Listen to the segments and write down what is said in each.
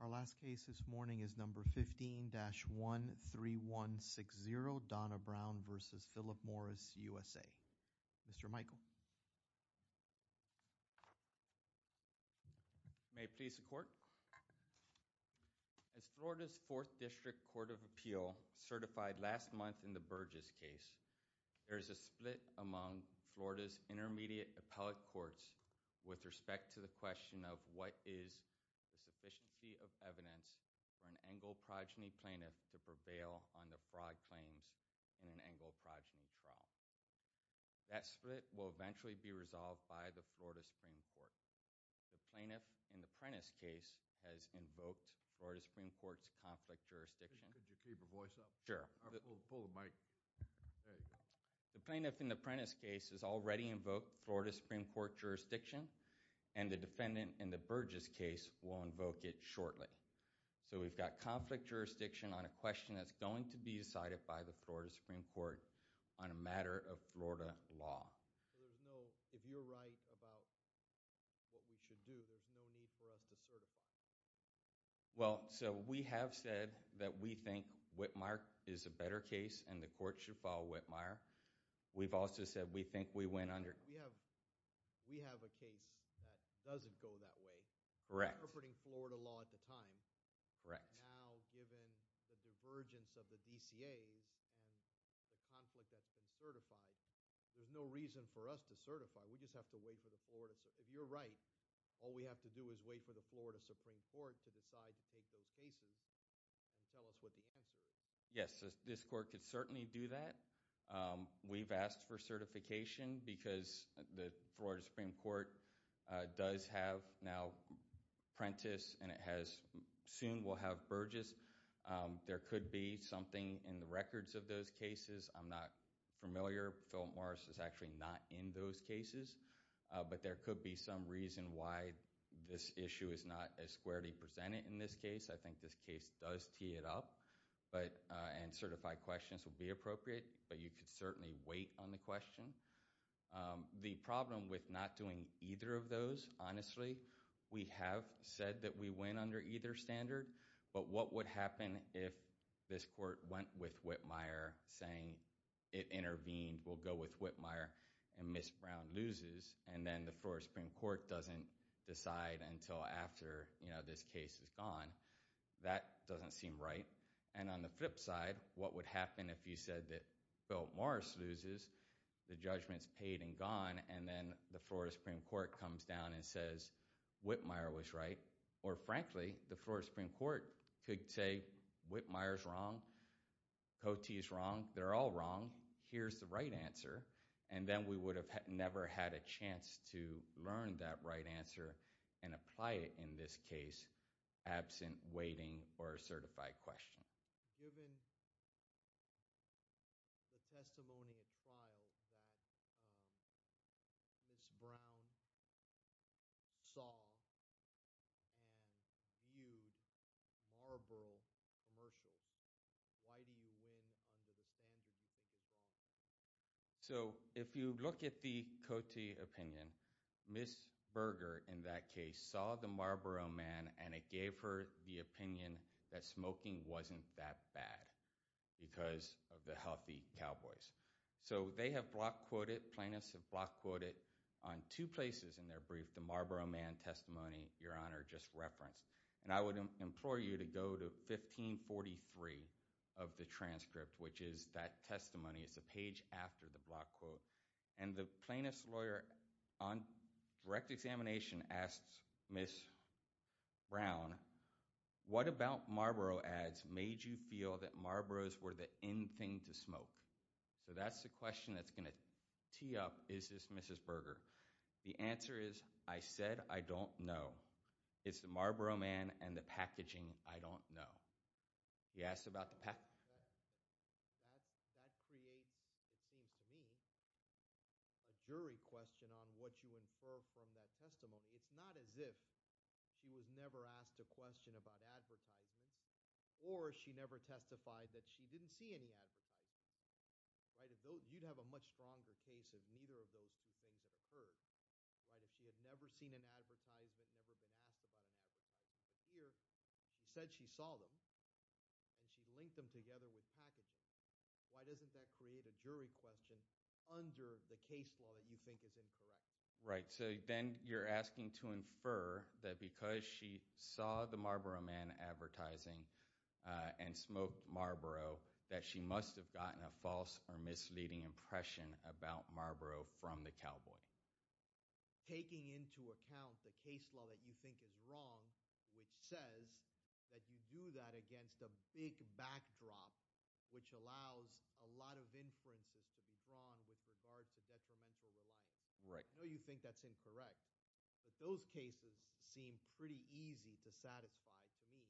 Our last case this morning is number 15-13160, Donna Brown v. Philip Morris USA. Mr. Michael. May it please the court. As Florida's 4th District Court of Appeal certified last month in the Burgess case, there is a split among Florida's intermediate appellate courts with respect to the question of what is the sufficiency of evidence for an Engle progeny plaintiff to prevail on the fraud claims in an Engle progeny trial. That split will eventually be resolved by the Florida Supreme Court. The plaintiff in the Prentiss case has invoked Florida Supreme Court's conflict jurisdiction. Could you keep your voice up? Sure. Pull the mic. There you go. The plaintiff in the Prentiss case has already invoked Florida Supreme Court jurisdiction, and the defendant in the Burgess case will invoke it shortly. So we've got conflict jurisdiction on a question that's going to be decided by the Florida Supreme Court on a matter of Florida law. So there's no, if you're right about what we should do, there's no need for us to certify. Well, so we have said that we think Whitmire is a better case and the court should follow Whitmire. We've also said we think we went under. We have a case that doesn't go that way. Correct. Interpreting Florida law at the time. Correct. Now, given the divergence of the DCAs and the conflict that's been certified, there's no reason for us to certify. We just have to wait for the Florida, if you're right, all we have to do is wait for the Florida Supreme Court to decide to take those cases and tell us what the answer is. Yes, this court could certainly do that. We've asked for certification because the Florida Supreme Court does have now Prentiss and it has soon will have Burgess. There could be something in the records of those cases. I'm not familiar. Phil Morris is actually not in those cases, but there could be some reason why this issue is not as squarely presented in this case. I think this case does tee it up, but and certified questions will be appropriate. But you could certainly wait on the question. The problem with not doing either of those, honestly, we have said that we went under either standard. But what would happen if this court went with Whitmire saying it intervened, we'll go with Whitmire and Ms. Brown loses. And then the Florida Supreme Court doesn't decide until after this case is gone. That doesn't seem right. And on the flip side, what would happen if you said that Phil Morris loses, the judgment's paid and gone. And then the Florida Supreme Court comes down and says Whitmire was right. Or frankly, the Florida Supreme Court could say Whitmire's wrong. Cote is wrong. They're all wrong. Here's the right answer. And then we would have never had a chance to learn that right answer and apply it in this case absent waiting or a certified question. Given the testimony at trial that Ms. Brown saw and viewed Marlboro commercials, why do you win under the standard you think is wrong? So if you look at the Cote opinion, Ms. Berger in that case saw the Marlboro Man and it gave her the opinion that smoking wasn't that bad because of the healthy cowboys. So they have block quoted, plaintiffs have block quoted on two places in their brief the Marlboro Man testimony Your Honor just referenced. And I would implore you to go to 1543 of the transcript which is that testimony. It's a page after the block quote. And the plaintiff's lawyer on direct examination asks Ms. Brown, what about Marlboro ads made you feel that Marlboros were the end thing to smoke? So that's the question that's going to tee up is this Mrs. Berger? The answer is I said I don't know. It's the Marlboro Man and the packaging I don't know. You asked about the packaging. That creates, it seems to me, a jury question on what you infer from that testimony. It's not as if she was never asked a question about advertisements or she never testified that she didn't see any advertisements. You'd have a much stronger case if neither of those two things had occurred. If she had never seen an advertisement, never been asked about an advertisement, but here she said she saw them and she linked them together with packaging. Why doesn't that create a jury question under the case law that you think is incorrect? Right, so then you're asking to infer that because she saw the Marlboro Man advertising and smoked Marlboro that she must have gotten a false or misleading impression about Marlboro from the cowboy. Taking into account the case law that you think is wrong, which says that you do that against a big backdrop, which allows a lot of inferences to be drawn with regard to detrimental reliance. I know you think that's incorrect, but those cases seem pretty easy to satisfy to me,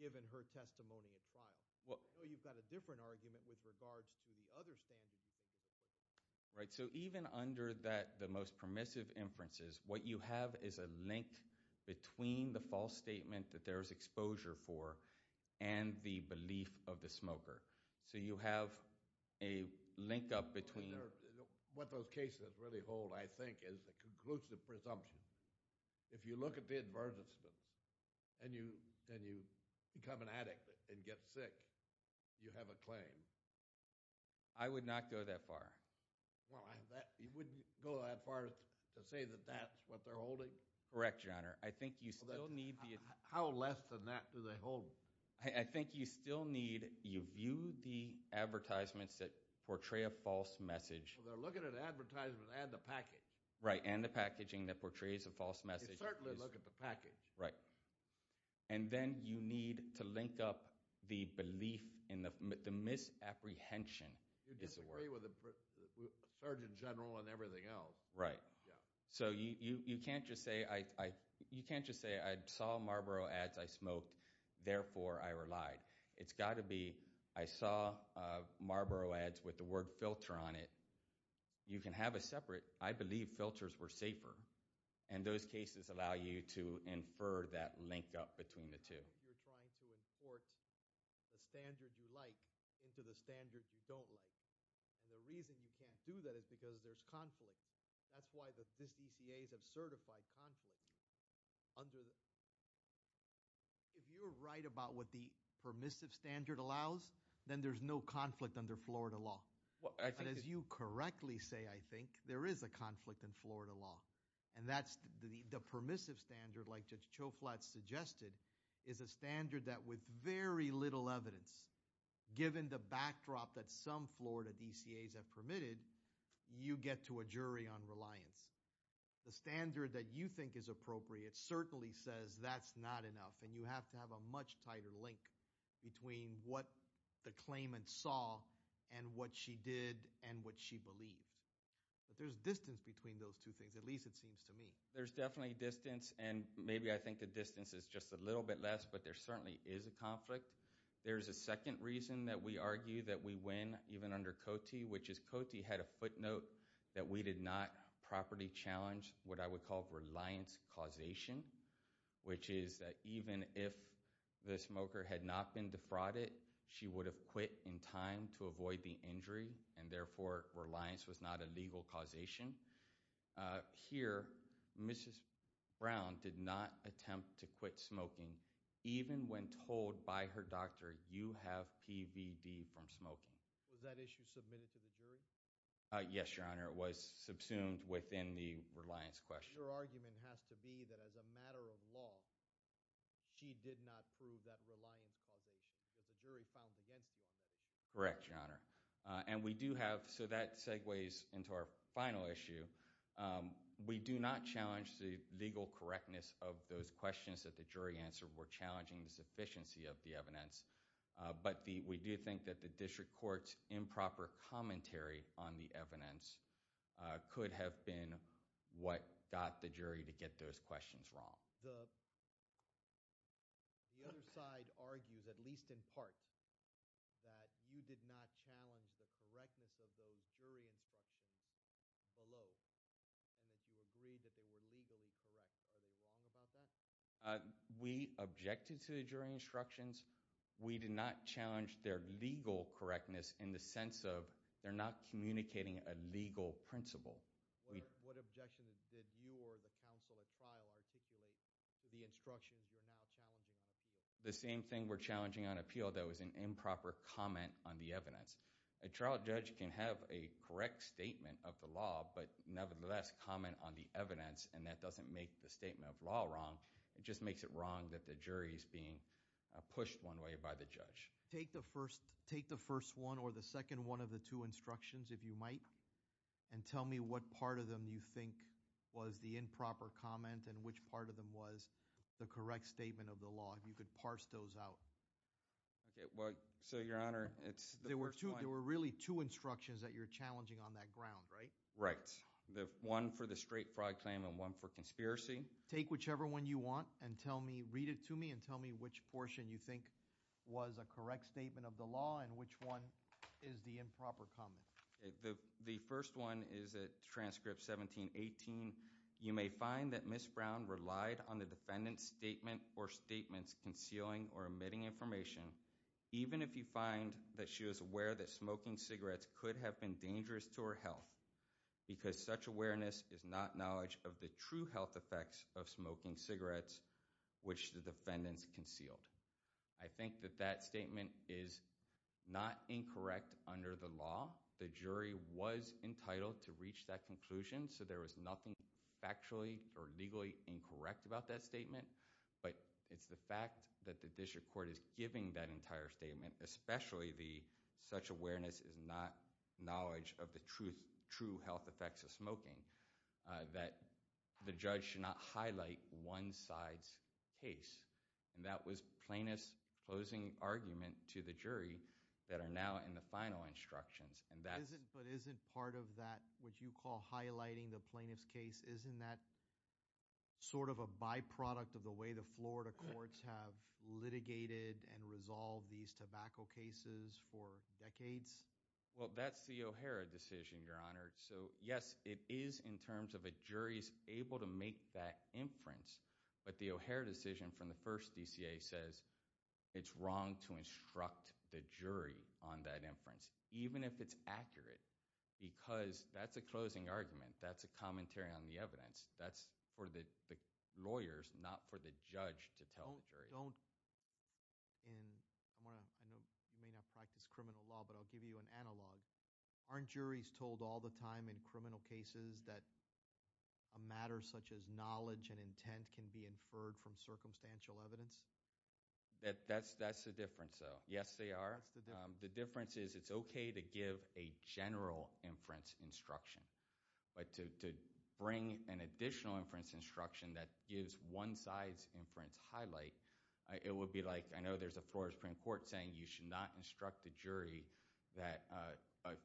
given her testimony at trial. I know you've got a different argument with regards to the other standard you think is appropriate. Right, so even under the most permissive inferences, what you have is a link between the false statement that there is exposure for and the belief of the smoker. So you have a link up between— What those cases really hold, I think, is a conclusive presumption. If you look at the advertisements and you become an addict and get sick, you have a claim. I would not go that far. Well, you wouldn't go that far to say that that's what they're holding? Correct, Your Honor. I think you still need the— How less than that do they hold? I think you still need—you view the advertisements that portray a false message. Well, they're looking at advertisements and the package. Right, and the packaging that portrays a false message. They certainly look at the package. Right, and then you need to link up the belief in the misapprehension. You disagree with the Surgeon General and everything else. Right, so you can't just say, I saw Marlboro ads I smoked, therefore I relied. It's got to be, I saw Marlboro ads with the word filter on it. You can have a separate, I believe filters were safer, and those cases allow you to infer that link up between the two. You're trying to import the standard you like into the standard you don't like. And the reason you can't do that is because there's conflict. That's why the DCAs have certified conflict. If you're right about what the permissive standard allows, then there's no conflict under Florida law. And as you correctly say, I think, there is a conflict in Florida law. And that's the permissive standard, like Judge Choflat suggested, is a standard that with very little evidence, given the backdrop that some Florida DCAs have permitted, you get to a jury on reliance. The standard that you think is appropriate certainly says that's not enough, and you have to have a much tighter link between what the claimant saw and what she did and what she believed. But there's distance between those two things, at least it seems to me. There's definitely distance, and maybe I think the distance is just a little bit less, but there certainly is a conflict. There's a second reason that we argue that we win even under COTI, which is COTI had a footnote that we did not properly challenge what I would call reliance causation, which is that even if the smoker had not been defrauded, she would have quit in time to avoid the injury, and therefore reliance was not a legal causation. Here, Mrs. Brown did not attempt to quit smoking, even when told by her doctor, you have PVD from smoking. Was that issue submitted to the jury? Yes, Your Honor. It was subsumed within the reliance question. Your argument has to be that as a matter of law, she did not prove that reliance causation, because the jury found against you on that issue. Correct, Your Honor. And we do have – so that segues into our final issue. We do not challenge the legal correctness of those questions that the jury answered. We're challenging the sufficiency of the evidence. But we do think that the district court's improper commentary on the evidence could have been what got the jury to get those questions wrong. The other side argues, at least in part, that you did not challenge the correctness of those jury instructions below, and that you agreed that they were legally correct. Are they wrong about that? We objected to the jury instructions. We did not challenge their legal correctness in the sense of they're not communicating a legal principle. What objection did you or the counsel at trial articulate to the instructions you're now challenging on appeal? The same thing we're challenging on appeal, though, is an improper comment on the evidence. A trial judge can have a correct statement of the law but nevertheless comment on the evidence, and that doesn't make the statement of law wrong. It just makes it wrong that the jury is being pushed one way by the judge. Take the first one or the second one of the two instructions, if you might, and tell me what part of them you think was the improper comment and which part of them was the correct statement of the law, if you could parse those out. So, Your Honor, it's the first one. There were really two instructions that you're challenging on that ground, right? Right, one for the straight fraud claim and one for conspiracy. Take whichever one you want and tell me, read it to me, and tell me which portion you think was a correct statement of the law and which one is the improper comment. The first one is at transcript 1718. You may find that Ms. Brown relied on the defendant's statement or statements concealing or omitting information, even if you find that she was aware that smoking cigarettes could have been dangerous to her health because such awareness is not knowledge of the true health effects of smoking cigarettes, which the defendants concealed. I think that that statement is not incorrect under the law. The jury was entitled to reach that conclusion, so there was nothing factually or legally incorrect about that statement, but it's the fact that the district court is giving that entire statement, especially the such awareness is not knowledge of the true health effects of smoking, that the judge should not highlight one side's case, and that was plaintiff's closing argument to the jury that are now in the final instructions. But isn't part of that what you call highlighting the plaintiff's case, isn't that sort of a byproduct of the way the Florida courts have litigated and resolved these tobacco cases for decades? Well, that's the O'Hara decision, Your Honor. So, yes, it is in terms of a jury's able to make that inference, but the O'Hara decision from the first DCA says it's wrong to instruct the jury on that inference, even if it's accurate because that's a closing argument. That's a commentary on the evidence. That's for the lawyers, not for the judge to tell the jury. I know you may not practice criminal law, but I'll give you an analog. Aren't juries told all the time in criminal cases that a matter such as knowledge and intent can be inferred from circumstantial evidence? That's the difference, though. Yes, they are. The difference is it's okay to give a general inference instruction, but to bring an additional inference instruction that gives one side's inference highlight, it would be like I know there's a Florida Supreme Court saying you should not instruct the jury that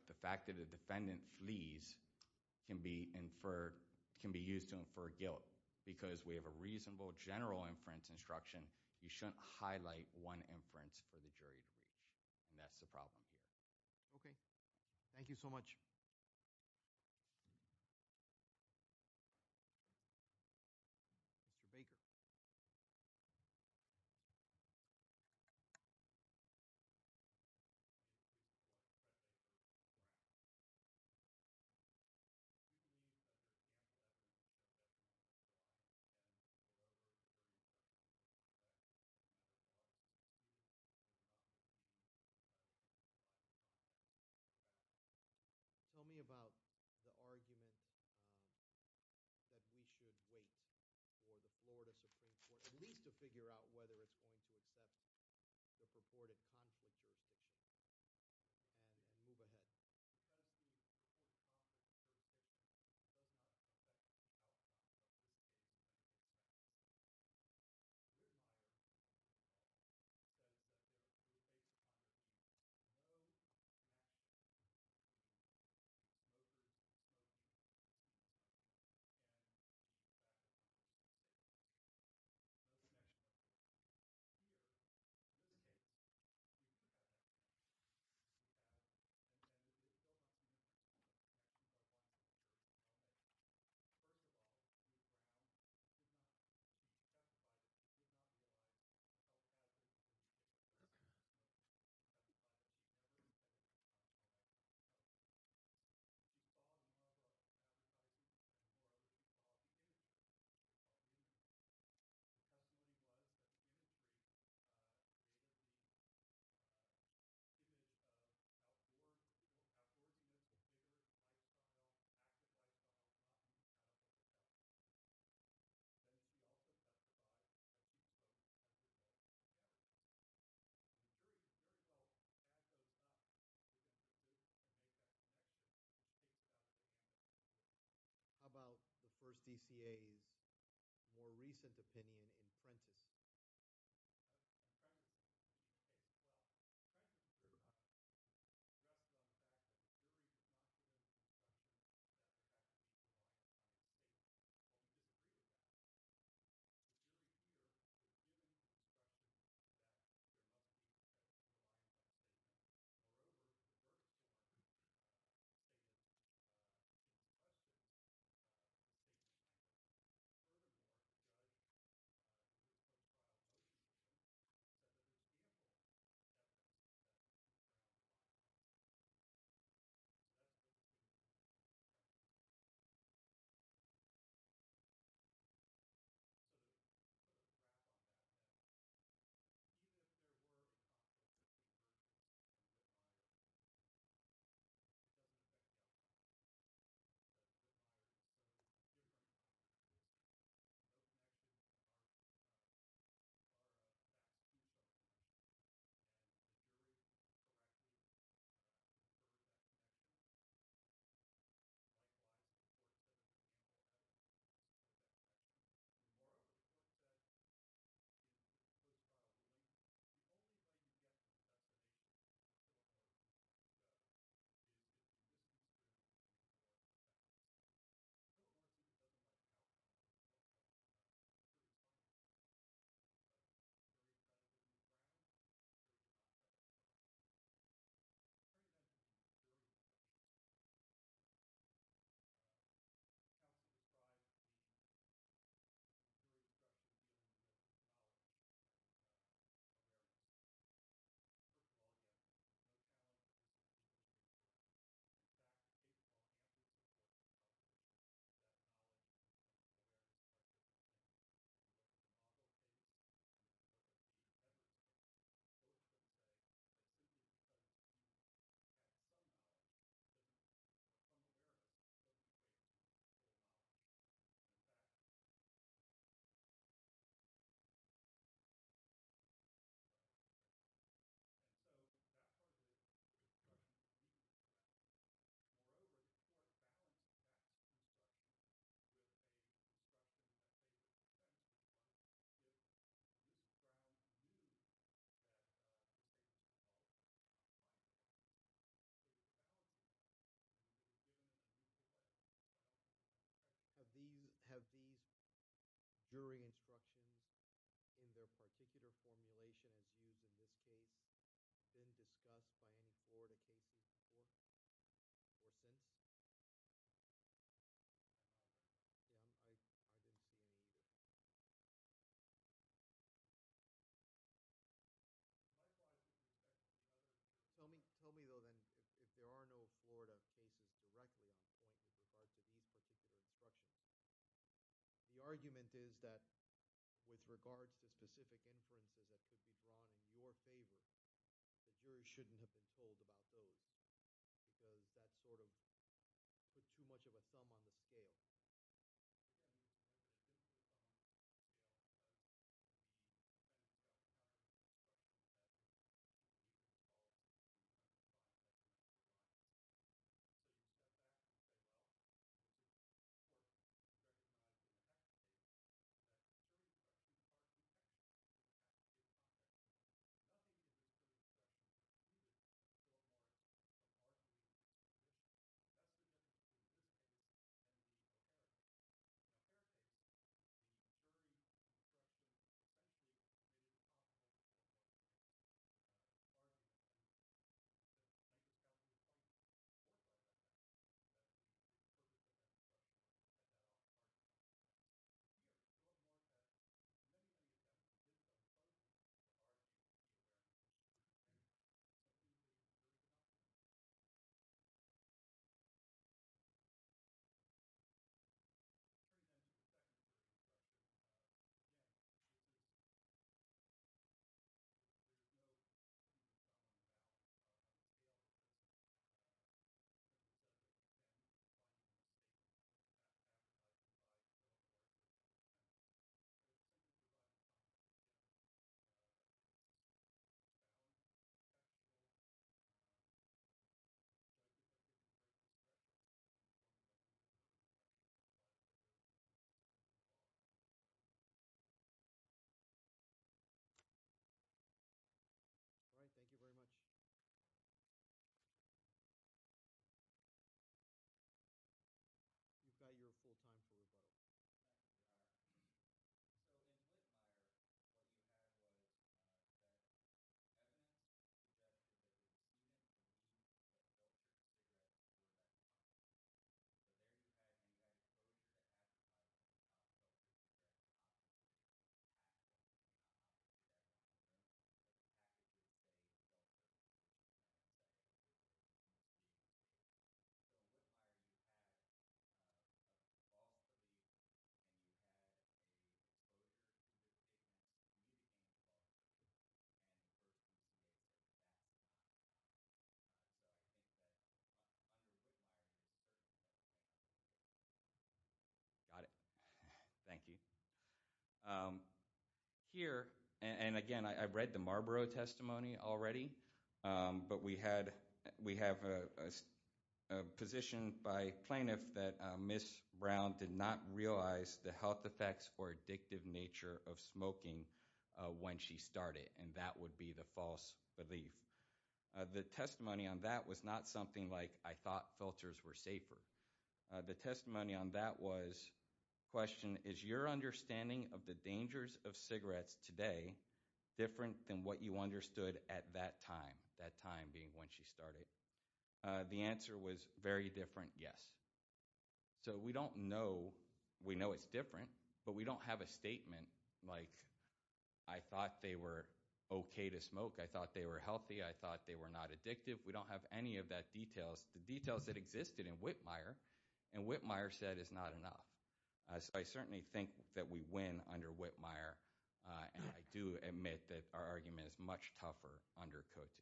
the fact that a defendant flees can be used to infer guilt because we have a reasonable general inference instruction. You shouldn't highlight one inference for the jury to reach, and that's the problem here. Okay. Thank you so much. Tell me about the argument that we should wait for the Florida Supreme Court at least to figure out whether it's going to accept the purported conflict jurisdiction and move ahead. Because the purported conflict jurisdiction does not accept the outcome of this case, it's going to accept it. Your model says that there are two states in Congress. No national jurisdiction. No jurisdiction. No jurisdiction. And no national jurisdiction. Here, there are two states in Congress. And there's so much in this case that we can't talk about. First of all, the jury found that it did not satisfy the case. It did not provide the case. It did not satisfy the case. It did not satisfy the case. It did not satisfy the case. The testimony was that the industry, given how poor the industry is, active lifestyle is not going to satisfy the case. Then we also testified that it did not satisfy the case. The jury, first of all, had those thoughts and made that connection. It did not satisfy the case. How about the first DCA's more recent opinion in Prentiss? In Prentiss, the jury did not feel that the jury did not satisfy the case. The jury did not feel that the jury did not satisfy the case. In other words, the jury did not feel that the jury did not satisfy the case. Furthermore, it does not satisfy the case. The jury did not feel that the jury did not satisfy the case. The jury did not feel that the jury did not satisfy the case. Have these jury instructions in their particular formulation as used in this case been discussed by any Florida cases before or since? I didn't see any either. Tell me though then if there are no Florida cases directly on point with regard to these particular instructions. The argument is that with regards to specific inferences that could be drawn in your favor, the jury shouldn't have been told about those because that sort of put too much of a thumb on the scale. Thank you. All right, thank you very much. You've got your full time for rebuttal. Got it. Thank you. Here, and again, I've read the Marlborough testimony already, but we have a position by plaintiff that Ms. Brown did not realize the health effects or addictive nature of smoking when she started, and that would be the false belief. The testimony on that was not something like, I thought filters were safer. The testimony on that was, question, is your understanding of the dangers of cigarettes today different than what you understood at that time, that time being when she started? The answer was very different, yes. So we don't know. We know it's different, but we don't have a statement like, I thought they were okay to smoke. I thought they were healthy. I thought they were not addictive. We don't have any of that details, the details that existed in Whitmire, and Whitmire said it's not enough. So I certainly think that we win under Whitmire, and I do admit that our argument is much tougher under Cote.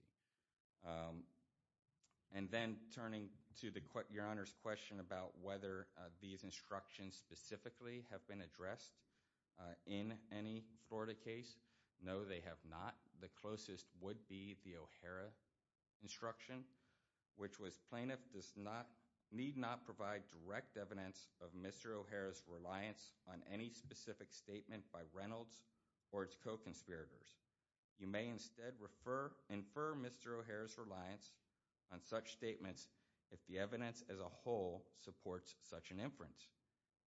And then turning to your Honor's question about whether these instructions specifically have been addressed in any Florida case, no, they have not. The closest would be the O'Hara instruction, which was, plaintiff need not provide direct evidence of Mr. O'Hara's reliance on any specific statement by Reynolds or its co-conspirators. You may instead infer Mr. O'Hara's reliance on such statements if the evidence as a whole supports such an inference.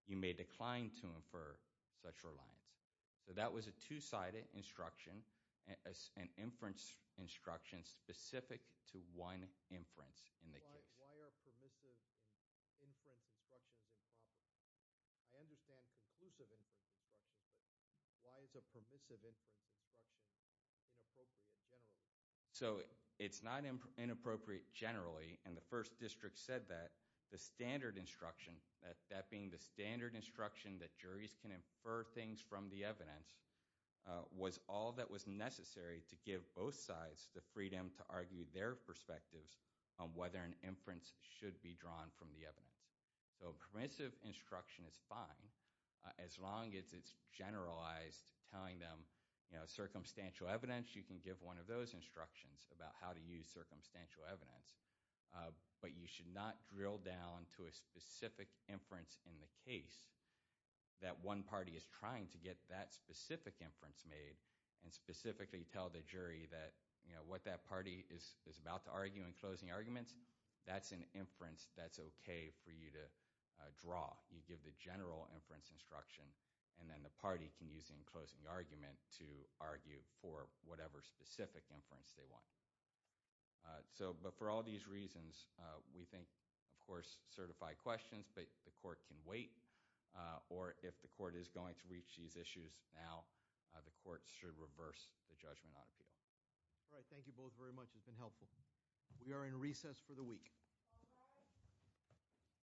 You may decline to infer such reliance. So that was a two-sided instruction, an inference instruction specific to one inference in the case. Why are permissive inference instructions improper? I understand conclusive inference instructions, but why is a permissive inference instruction inappropriate generally? So it's not inappropriate generally, and the First District said that, the standard instruction, that being the standard instruction that juries can infer things from the evidence, was all that was necessary to give both sides the freedom to argue their perspectives on whether an inference should be drawn from the evidence. So a permissive instruction is fine, as long as it's generalized, telling them, you know, circumstantial evidence, you can give one of those instructions about how to use circumstantial evidence. But you should not drill down to a specific inference in the case that one party is trying to get that specific inference made and specifically tell the jury that, you know, what that party is about to argue in closing arguments, that's an inference that's okay for you to draw. You give the general inference instruction, and then the party can use the enclosing argument to argue for whatever specific inference they want. So but for all these reasons, we think, of course, certified questions, but the court can wait, or if the court is going to reach these issues now, the court should reverse the judgment on appeal. All right. Thank you both very much. It's been helpful. We are in recess for the week.